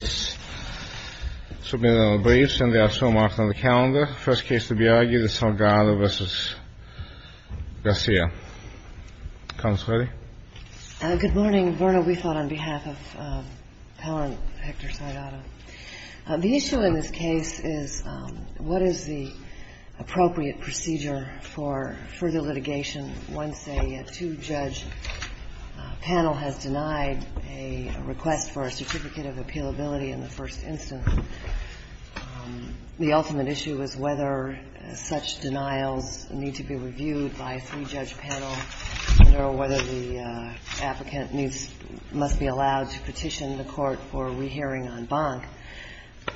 Good morning. The issue in this case is what is the appropriate procedure for further litigation once a two-judge panel has denied a request for a Certificate of Appealability in the first instance. The ultimate issue is whether such denials need to be reviewed by a three-judge panel or whether the applicant must be allowed to petition the Court for a rehearing en banc.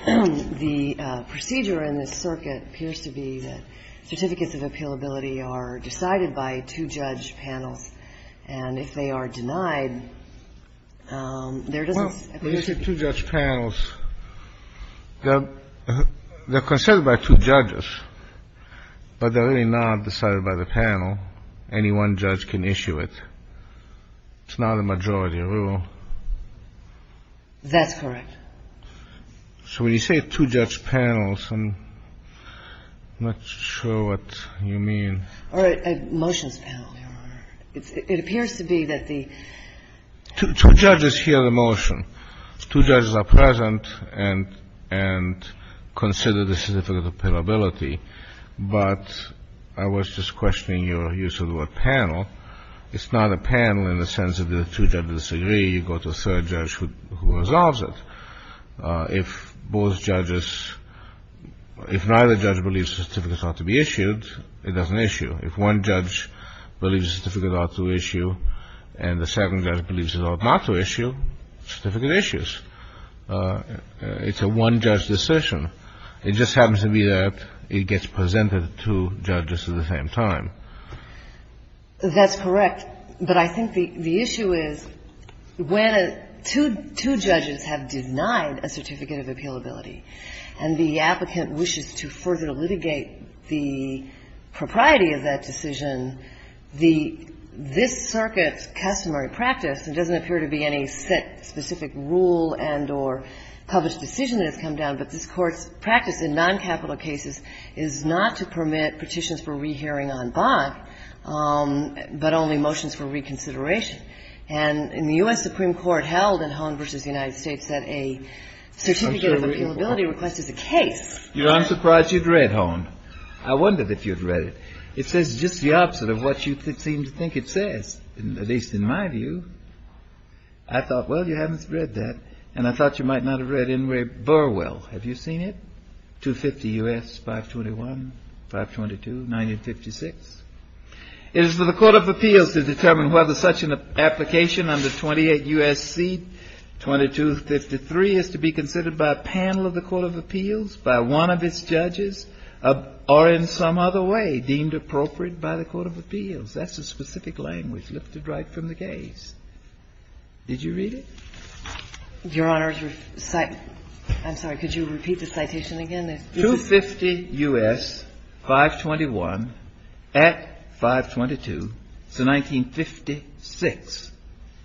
The procedure in this circuit appears to be that Certificates of Appealability are decided by two-judge panels, and if they are denied, there doesn't seem to be an issue. Well, when you say two-judge panels, they're considered by two judges, but they're really not decided by the panel. Any one judge can issue it. It's not a majority rule. That's correct. So when you say two-judge panels, I'm not sure what you mean. Or motions panel, Your Honor. It appears to be that the ---- Two judges hear the motion. Two judges are present and consider the Certificate of Appealability, but I was just questioning your use of the word panel. It's not a panel in the sense that if two judges agree, you go to a third judge who resolves it. If both judges ---- if neither judge believes the certificate ought to be issued, it doesn't issue. If one judge believes the certificate ought to issue and the second judge believes it ought not to issue, certificate issues. It's a one-judge decision. It just happens to be that it gets presented to judges at the same time. That's correct. But I think the issue is when two judges have denied a Certificate of Appealability and the applicant wishes to further litigate the propriety of that decision, the ---- this circuit's customary practice, it doesn't appear to be any set specific rule and or published decision that has come down, but this Court's practice in noncapital cases is not to permit petitions for rehearing en banc, but only motions for reconsideration. And in the U.S. Supreme Court held in Hone v. United States that a Certificate of Appealability request is a case. You're not surprised you've read Hone. I wondered if you'd read it. It says just the opposite of what you seem to think it says, at least in my view. I thought, well, you haven't read that, and I thought you might not have read Ingray-Burwell. Have you seen it? 250 U.S., 521, 522, 1956. It is for the Court of Appeals to determine whether such an application under 28 U.S.C. 2253 is to be considered by a panel of the Court of Appeals, by one of its judges, or in some other way deemed appropriate by the Court of Appeals. That's a specific language lifted right from the case. Did you read it? Your Honor, I'm sorry. Could you repeat the citation again? 250 U.S., 521, at 522, it's a 1956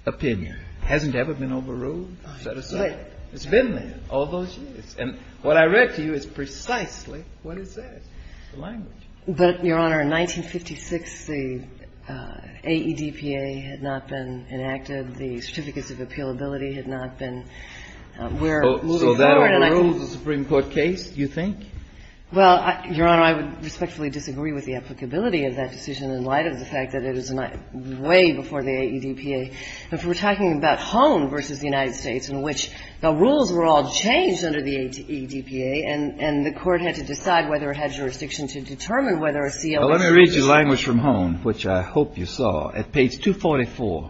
opinion. It hasn't ever been overruled, so to say. It's been there all those years. And what I read to you is precisely what it says. It's the language. But, Your Honor, in 1956, the AEDPA had not been enacted. The Certificates of Appealability had not been. We're moving forward, and I think So that overruled the Supreme Court case, you think? Well, Your Honor, I would respectfully disagree with the applicability of that decision in light of the fact that it is way before the AEDPA. If we're talking about Hone v. the United States, in which the rules were all changed under the AEDPA, and the Court had to decide whether it had jurisdiction to determine whether a COA should be used. Under language from Hone, which I hope you saw, at page 244,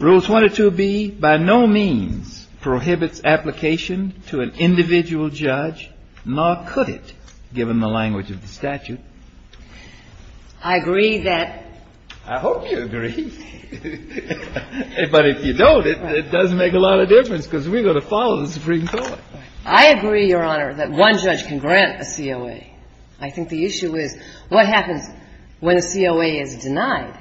Rules 1 or 2B by no means prohibits application to an individual judge, nor could it, given the language of the statute. I agree that I hope you agree, but if you don't, it doesn't make a lot of difference because we're going to follow the Supreme Court. I agree, Your Honor, that one judge can grant a COA. I think the issue is what happens when a COA is denied?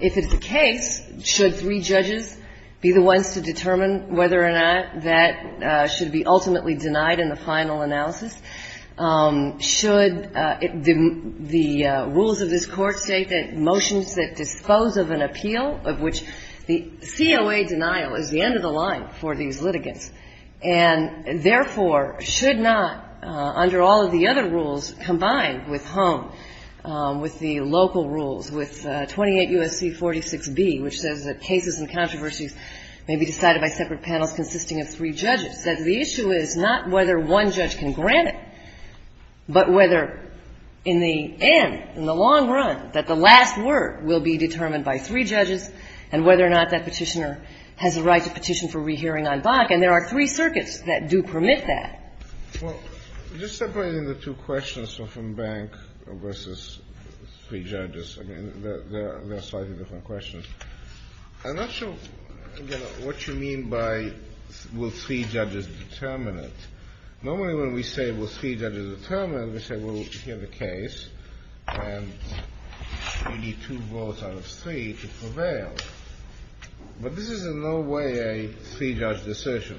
If it's the case, should three judges be the ones to determine whether or not that should be ultimately denied in the final analysis? Should the rules of this Court state that motions that dispose of an appeal, of which the COA denial is the end of the line for these litigants, and therefore should not, under all of the other rules combined with Hone, with the local rules, with 28 U.S.C. 46B, which says that cases and controversies may be decided by separate panels consisting of three judges, that the issue is not whether one judge can grant it, but whether in the end, in the long run, that the last word will be determined by three judges and whether or not that Petitioner has a right to petition for rehearing on Bach. And there are three circuits that do permit that. Well, just separating the two questions from Bank versus three judges, I mean, they're slightly different questions. I'm not sure, again, what you mean by will three judges determine it. Normally when we say will three judges determine it, we say, well, we'll hear the case, and we need two votes out of three to prevail. But this is in no way a three-judge decision.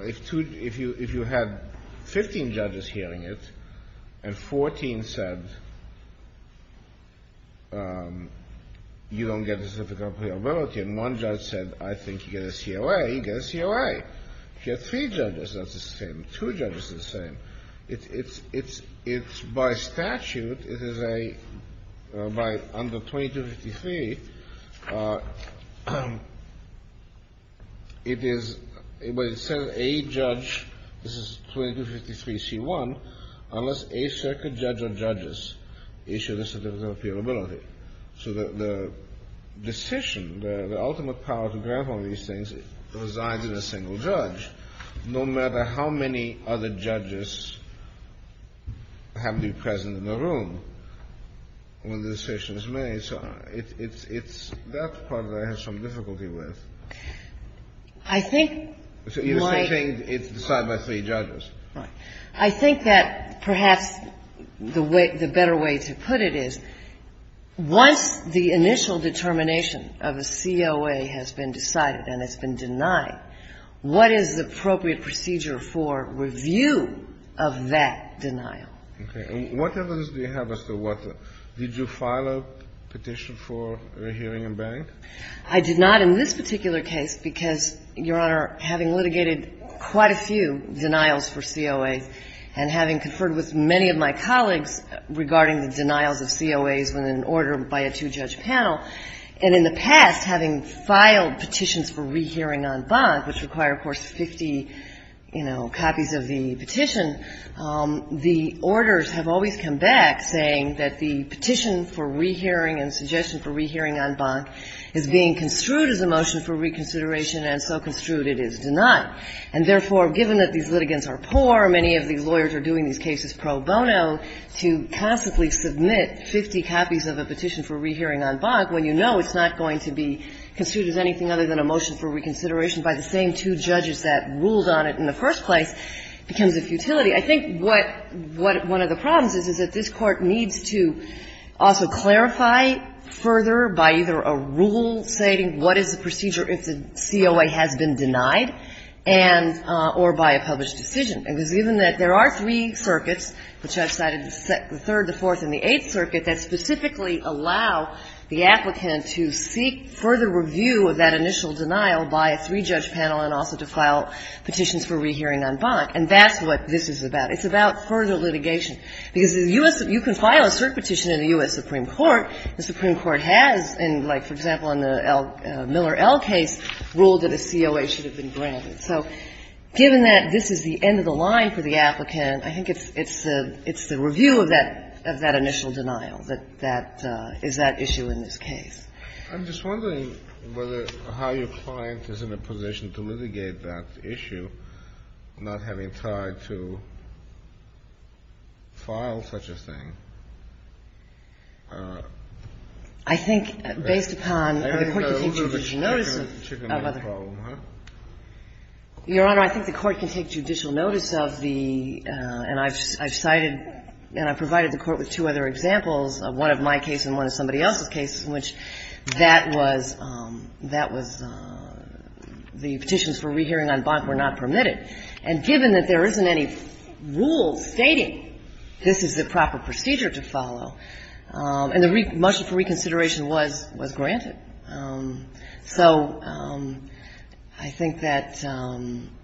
If you had 15 judges hearing it, and 14 said you don't get a certificate of reliability, and one judge said, I think you get a COA, you get a COA. If you have three judges, that's the same. Two judges are the same. It's by statute, it is a, by under 2253, it is, it says a judge, this is 2253c1, unless a circuit judge or judges issue a certificate of appealability. So the decision, the ultimate power to grant all these things resides in a single judge, no matter how many other judges have to be present in the room when the decision is made. So it's, it's, it's, that's part of it I have some difficulty with. I think my So you're saying it's decided by three judges. Right. I think that perhaps the way, the better way to put it is, once the initial determination of a COA has been decided and it's been denied, what is the appropriate procedure for review of that denial? Okay. And what evidence do you have as to what, did you file a petition for a hearing in bank? I did not in this particular case, because, Your Honor, having litigated quite a few denials for COAs, and having conferred with many of my colleagues regarding the denials of COAs when an order by a two-judge panel, and in the past, having filed petitions for rehearing on bank, which require, of course, 50, you know, copies of the petition, the orders have always come back saying that the petition for rehearing and suggestion for rehearing on bank is being construed as a motion for reconsideration and so construed it is denied. And therefore, given that these litigants are poor, many of these lawyers are doing these cases pro bono, to constantly submit 50 copies of a petition for rehearing on bank when you know it's not going to be construed as anything other than a motion for reconsideration by the same two judges that ruled on it in the first place becomes a futility. I think what one of the problems is, is that this Court needs to also clarify further by either a rule stating what is the procedure if the COA has been denied and or by a published decision. Because given that there are three circuits, the judge cited the third, the fourth and the eighth circuit, that specifically allow the applicant to seek further review of that initial denial by a three-judge panel and also to file petitions for rehearing on bank, and that's what this is about. It's about further litigation. Because the U.S. You can file a cert petition in the U.S. Supreme Court. The Supreme Court has, in like, for example, in the Miller L case, ruled that a COA should have been granted. So given that this is the end of the line for the applicant, I think it's the review of that initial denial that is that issue in this case. Kennedy. I'm just wondering whether how your client is in a position to litigate that issue, not having tried to file such a thing. I think based upon the Court's contingency notice of other things. Your Honor, I think the Court can take judicial notice of the – and I've cited and I've provided the Court with two other examples, one of my case and one of somebody else's case, in which that was – that was the petitions for rehearing on bond were not permitted. And given that there isn't any rule stating this is the proper procedure to follow and the motion for reconsideration was granted, so I think that the Court has the right to do that.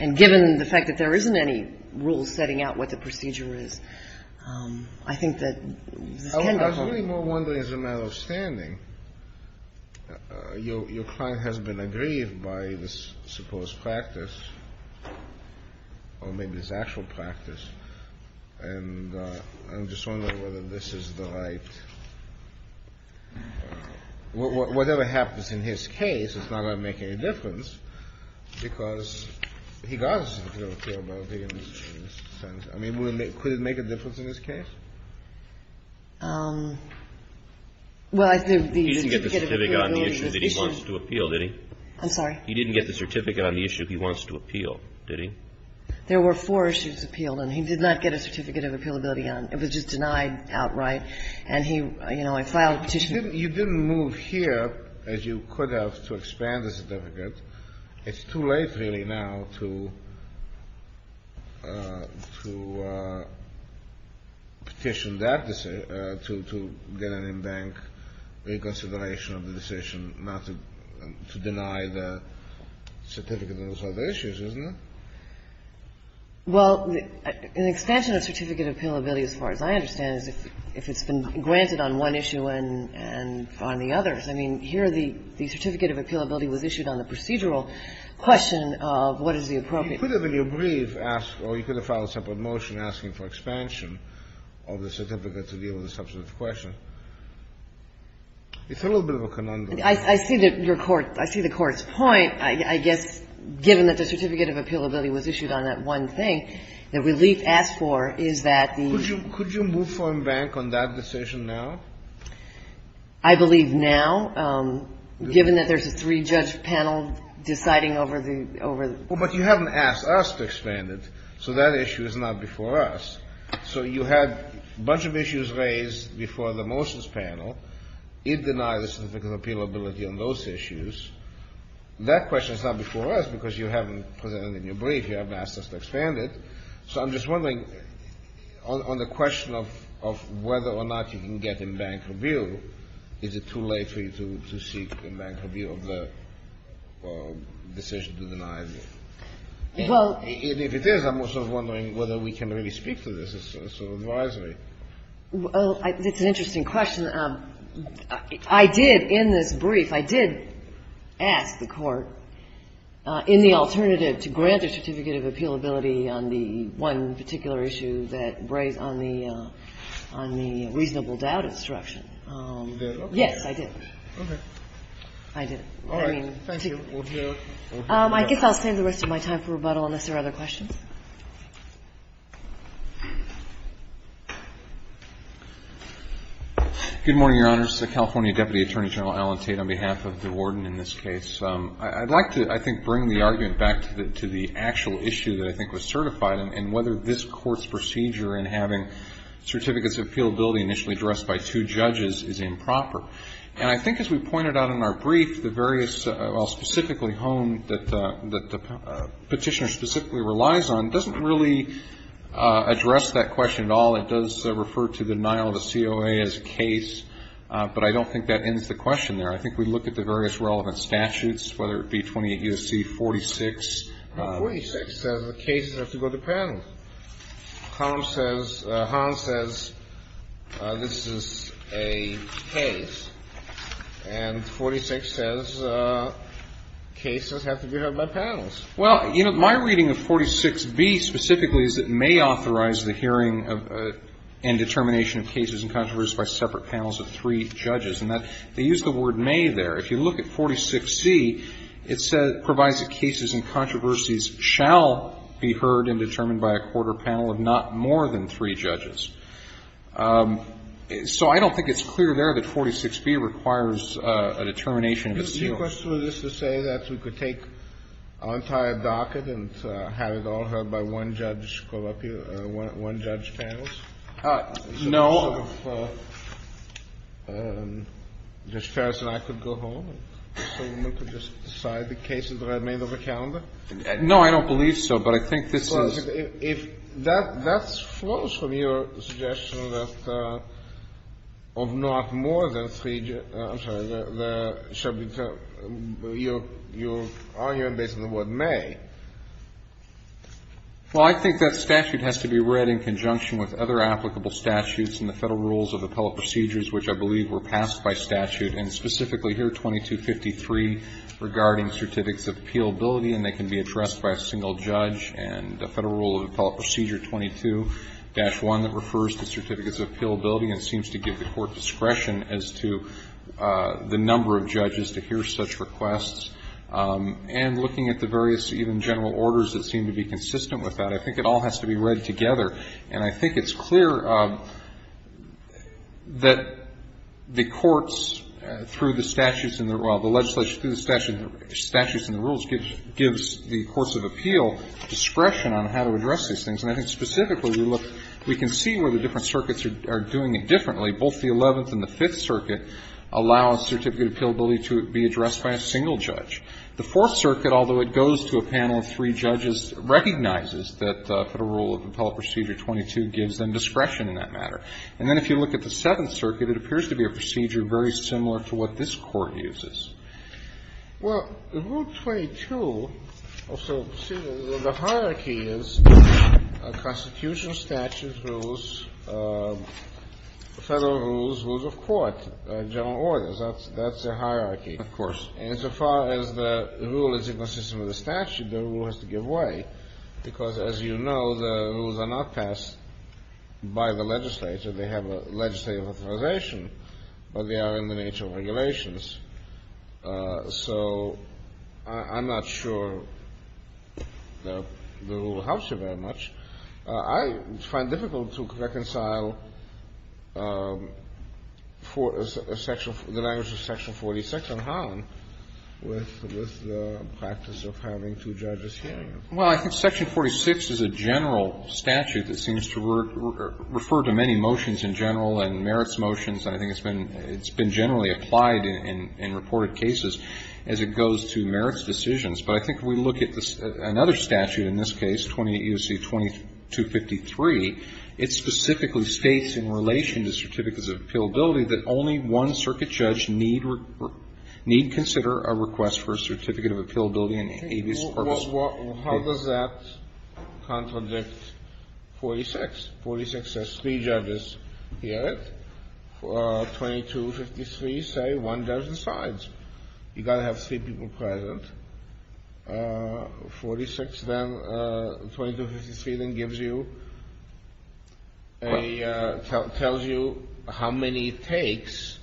And given the fact that there isn't any rule setting out what the procedure is, I think that this can be followed. I was really more wondering as a matter of standing, your client has been aggrieved by this supposed practice, or maybe this actual practice, and I'm just wondering whether this is the right – whatever happens in his case, it's not going to make any difference, because he got a certificate of appealability in this sentence. I mean, would it make – could it make a difference in this case? Well, I think the certificate of appealability is an issue. He didn't get the certificate on the issue that he wants to appeal, did he? I'm sorry? He didn't get the certificate on the issue he wants to appeal, did he? There were four issues appealed, and he did not get a certificate of appealability on – it was just denied outright. And he – you know, I filed a petition. You didn't move here, as you could have, to expand the certificate. It's too late, really, now to petition that – to get an in-bank reconsideration of the decision not to deny the certificate on those other issues, isn't it? Well, an expansion of certificate of appealability, as far as I understand, is if it's been granted on one issue and on the others. I mean, here the certificate of appealability was issued on the procedural question of what is the appropriate – You could have, in your brief, asked – or you could have filed a separate motion asking for expansion of the certificate to deal with the substantive question. It's a little bit of a conundrum. I see that your Court – I see the Court's point. I guess, given that the certificate of appealability was issued on that one thing, the relief asked for is that the – Could you move for in-bank on that decision now? I believe now, given that there's a three-judge panel deciding over the – Well, but you haven't asked us to expand it, so that issue is not before us. So you had a bunch of issues raised before the motions panel. It denied the certificate of appealability on those issues. That question is not before us because you haven't presented it in your brief. You haven't asked us to expand it. So I'm just wondering, on the question of whether or not you can get in-bank rebuild, is it too late for you to seek in-bank rebuild of the decision to deny it? And if it is, I'm also wondering whether we can really speak to this as sort of advisory. Well, it's an interesting question. I did, in this brief, I did ask the Court, in the alternative to grant the certificate of appealability on the one particular issue that – on the reasonable doubt instruction. You did? Yes, I did. Okay. I did. All right. Thank you. I guess I'll save the rest of my time for rebuttal unless there are other questions. Good morning, Your Honors. California Deputy Attorney General Alan Tate on behalf of the warden in this case. I'd like to, I think, bring the argument back to the actual issue that I think was certified and whether this Court's procedure in having certificates of appealability initially addressed by two judges is improper. And I think, as we pointed out in our brief, the various – well, specifically honed that the Petitioner specifically relies on doesn't really address that question at all. It does refer to the denial of a COA as a case, but I don't think that ends the question there. I think we look at the various relevant statutes, whether it be 28 U.S.C., 46. Well, 46 says the cases have to go to panel. Column says – column says this is a case. And 46 says cases have to be heard by panels. Well, you know, my reading of 46B specifically is it may authorize the hearing of and determination of cases and controversies by separate panels of three judges. And that – they use the word may there. If you look at 46C, it says it provides that cases and controversies shall be heard and determined by a quarter panel of not more than three judges. So I don't think it's clear there that 46B requires a determination of a COA. Do you question this to say that we could take our entire docket and have it all heard by one judge – one judge panels? No. So the motion of Judge Ferris and I could go home, and Mr. Levin could just decide the cases that are made of the calendar? No, I don't believe so, but I think this is – Well, I think if that flows from your suggestion that of not more than three – I'm sorry, the subject – your argument based on the word may. Well, I think that statute has to be read in conjunction with other applicable statutes in the Federal Rules of Appellate Procedures, which I believe were passed by statute. And specifically here, 2253, regarding Certificates of Appealability, and they can be addressed by a single judge. And the Federal Rule of Appellate Procedure 22-1 that refers to Certificates of Appealability and seems to give the Court discretion as to the number of judges to hear such requests. And looking at the various even general orders that seem to be consistent with that, I think it all has to be read together. And I think it's clear that the courts, through the statutes in the – well, the legislature through the statutes in the rules gives the Courts of Appeal discretion on how to address these things. And I think specifically we look – we can see where the different circuits are doing it differently. Both the Eleventh and the Fifth Circuit allow a Certificate of Appealability to be addressed by a single judge. The Fourth Circuit, although it goes to a panel of three judges, recognizes that the Federal Rule of Appellate Procedure 22 gives them discretion in that matter. And then if you look at the Seventh Circuit, it appears to be a procedure very similar to what this Court uses. Well, Rule 22, so the hierarchy is constitutional statutes, rules, Federal rules, rules of court, general orders. That's the hierarchy. Of course. And so far as the rule is consistent with the statute, the rule has to give way because, as you know, the rules are not passed by the legislature. They have a legislative authorization, but they are in the nature of regulations. So I'm not sure the rule helps you very much. I find it difficult to reconcile the language of Section 46 on Harlan with the practice of having two judges hearing it. Well, I think Section 46 is a general statute that seems to refer to many motions in general and merits motions. And I think it's been generally applied in reported cases as it goes to merits decisions. But I think if we look at another statute in this case, 28 U.C. 2253, it specifically states in relation to Certificates of Appealability that only one circuit judge need consider a request for a Certificate of Appealability in Avis purpose. Well, how does that contradict 46? 46 says three judges hear it. 2253 say one judge decides. You've got to have three people present. 4253 then tells you how many it takes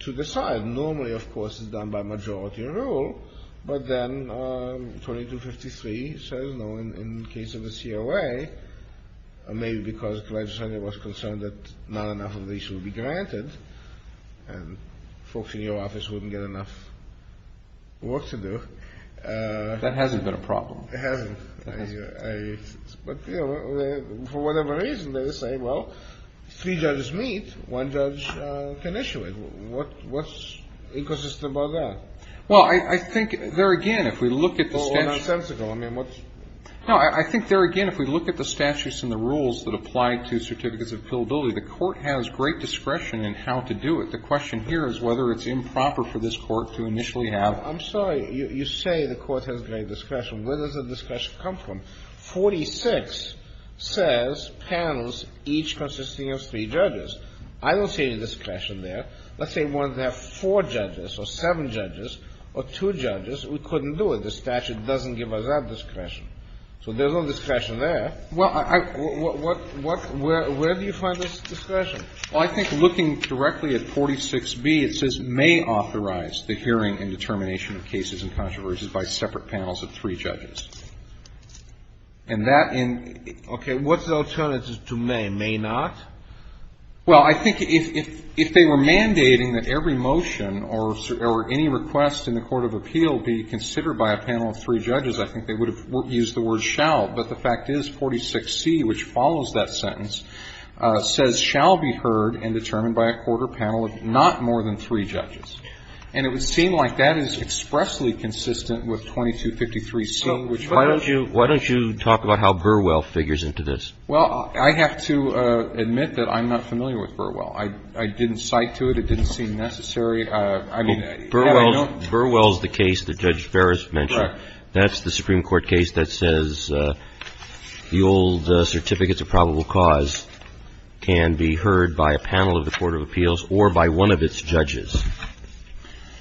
to decide. Normally, of course, it's done by majority rule. But then 2253 says, no, in the case of the COA, maybe because the legislature was concerned that not enough of these would be granted and folks in your office wouldn't get enough work to do. That hasn't been a problem. It hasn't. But, you know, for whatever reason, they say, well, three judges meet, one judge can issue it. What's inconsistent about that? Well, I think there again, if we look at the statute. Well, nonsensical. I mean, what's? No, I think there again, if we look at the statutes and the rules that apply to Certificates of Appealability, the Court has great discretion in how to do it. But the question here is whether it's improper for this Court to initially have. I'm sorry. You say the Court has great discretion. Where does the discretion come from? 46 says panels each consisting of three judges. I don't see any discretion there. Let's say one has four judges or seven judges or two judges. We couldn't do it. The statute doesn't give us that discretion. So there's no discretion there. Well, where do you find this discretion? Well, I think looking directly at 46B, it says may authorize the hearing and determination of cases and controversies by separate panels of three judges. And that in. Okay. What's the alternative to may? May not? Well, I think if they were mandating that every motion or any request in the Court of Appeal be considered by a panel of three judges, I think they would have used the word shall. But the fact is 46C, which follows that sentence, says shall be heard and determined by a quarter panel of not more than three judges. And it would seem like that is expressly consistent with 2253C, which. Why don't you talk about how Burwell figures into this? Well, I have to admit that I'm not familiar with Burwell. I didn't cite to it. It didn't seem necessary. Burwell is the case that Judge Ferris mentioned. Right. That's the Supreme Court case that says the old certificates of probable cause can be heard by a panel of the Court of Appeals or by one of its judges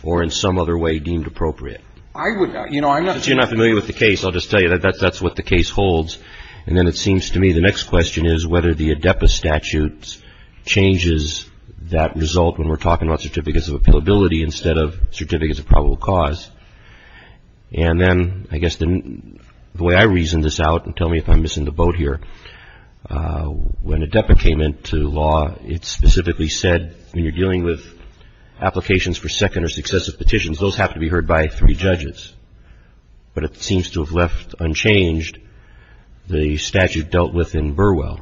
or in some other way deemed appropriate. I would. You know, I'm not. Since you're not familiar with the case, I'll just tell you that that's what the case holds. And then it seems to me the next question is whether the ADEPA statute changes that result when we're talking about certificates of appealability instead of certificates of probable cause. And then I guess the way I reason this out, and tell me if I'm missing the boat here, when ADEPA came into law, it specifically said when you're dealing with applications for second or successive petitions, those have to be heard by three judges. But it seems to have left unchanged the statute dealt with in Burwell.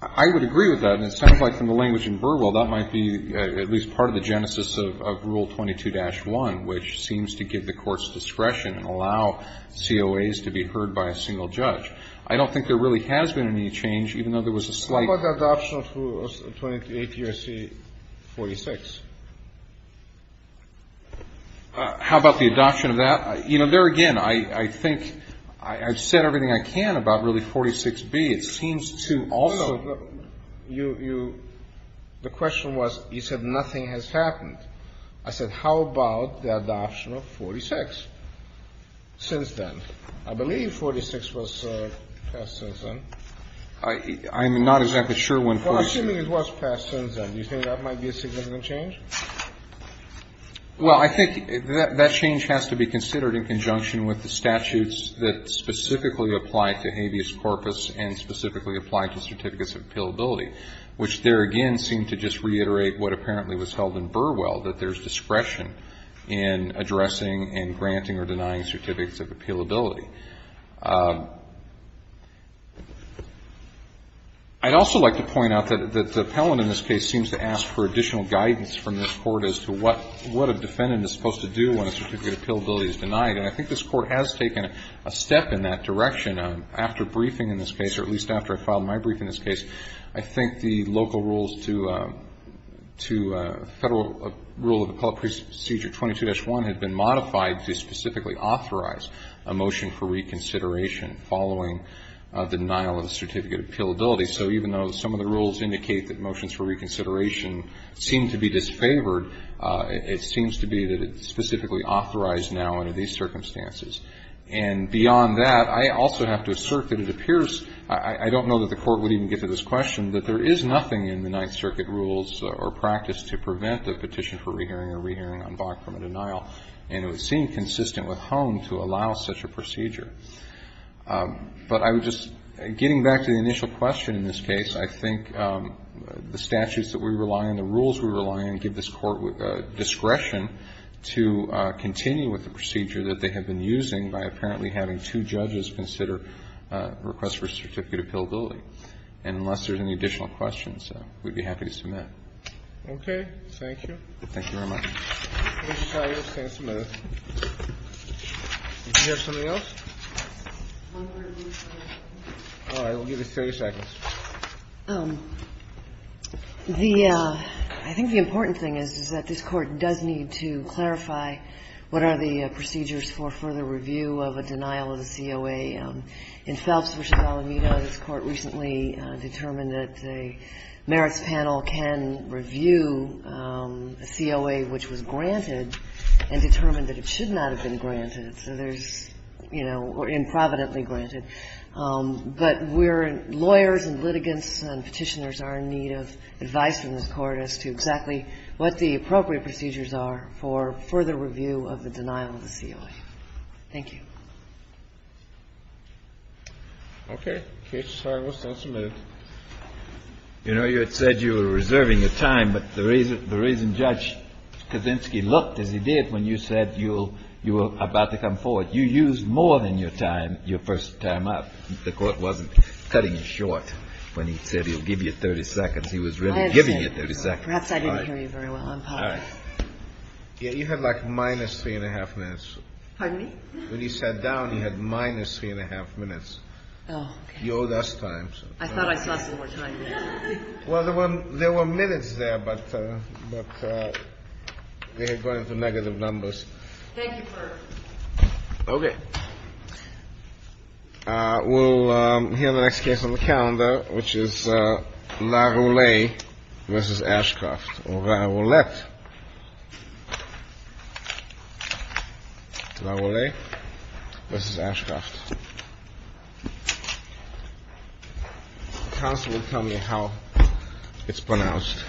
I would agree with that. And it sounds like from the language in Burwell, that might be at least part of the genesis of Rule 22-1, which seems to give the courts discretion and allow COAs to be heard by a single judge. I don't think there really has been any change, even though there was a slight How about the adoption of Rule 28 U.S.C. 46? How about the adoption of that? You know, there again, I think I've said everything I can about really 46B. It seems to also The question was, you said nothing has happened. I said, how about the adoption of 46 since then? I believe 46 was passed since then. I'm not exactly sure when 46 was passed. Well, assuming it was passed since then, do you think that might be a significant change? Well, I think that change has to be considered in conjunction with the statutes that specifically apply to habeas corpus and specifically apply to certificates of appealability, which there again seem to just reiterate what apparently was held in Burwell, that there's discretion in addressing and granting or denying certificates of appealability. I'd also like to point out that the appellant in this case seems to ask for additional guidance from this Court as to what a defendant is supposed to do when a certificate of appealability is denied. And I think this Court has taken a step in that direction after briefing in this case, or at least after I filed my brief in this case. I think the local rules to federal rule of appellate procedure 22-1 had been modified to specifically authorize a motion for reconsideration following the denial of the certificate of appealability. So even though some of the rules indicate that motions for reconsideration seem to be disfavored, it seems to be that it's specifically authorized now under these circumstances. And beyond that, I also have to assert that it appears, I don't know that the Court would even get to this question, that there is nothing in the Ninth Circuit rules or practice to prevent the petition for rehearing or rehearing on Bach from a denial. And it would seem consistent with Hone to allow such a procedure. But I would just, getting back to the initial question in this case, I think the statutes that we rely on, the rules we rely on give this Court discretion to continue with the procedure that they have been using by apparently having two judges consider a request for certificate of appealability. And unless there's any additional questions, we'd be happy to submit. Okay. Thank you. Thank you very much. Thank you, Mr. Smith. Did you have something else? All right. We'll give you 30 seconds. The, I think the important thing is, is that this Court does need to clarify what are the procedures for further review of a denial of the COA. In Phelps v. Alameda, this Court recently determined that a merits panel can review a COA which was granted and determined that it should not have been granted. So there's, you know, or improvidently granted. But we're, lawyers and litigants and petitioners are in need of advice from this Court on further review of the denial of the COA. Thank you. Okay. Case is signed. We'll stand for a minute. You know, you had said you were reserving your time. But the reason Judge Kaczynski looked as he did when you said you were about to come forward, you used more than your time, your first time up. The Court wasn't cutting you short when he said he'll give you 30 seconds. He was really giving you 30 seconds. Perhaps I didn't hear you very well. I'm sorry. Yeah, you had like minus 3 1⁄2 minutes. Pardon me? When you sat down, you had minus 3 1⁄2 minutes. Oh, okay. You owed us time. I thought I saw some more time. Well, there were minutes there, but they had gone into negative numbers. Thank you for... Okay. We'll hear the next case on the calendar, which is Laroulet v. Ashcroft. Laroulet. Laroulet v. Ashcroft. Counsel will tell me how it's pronounced.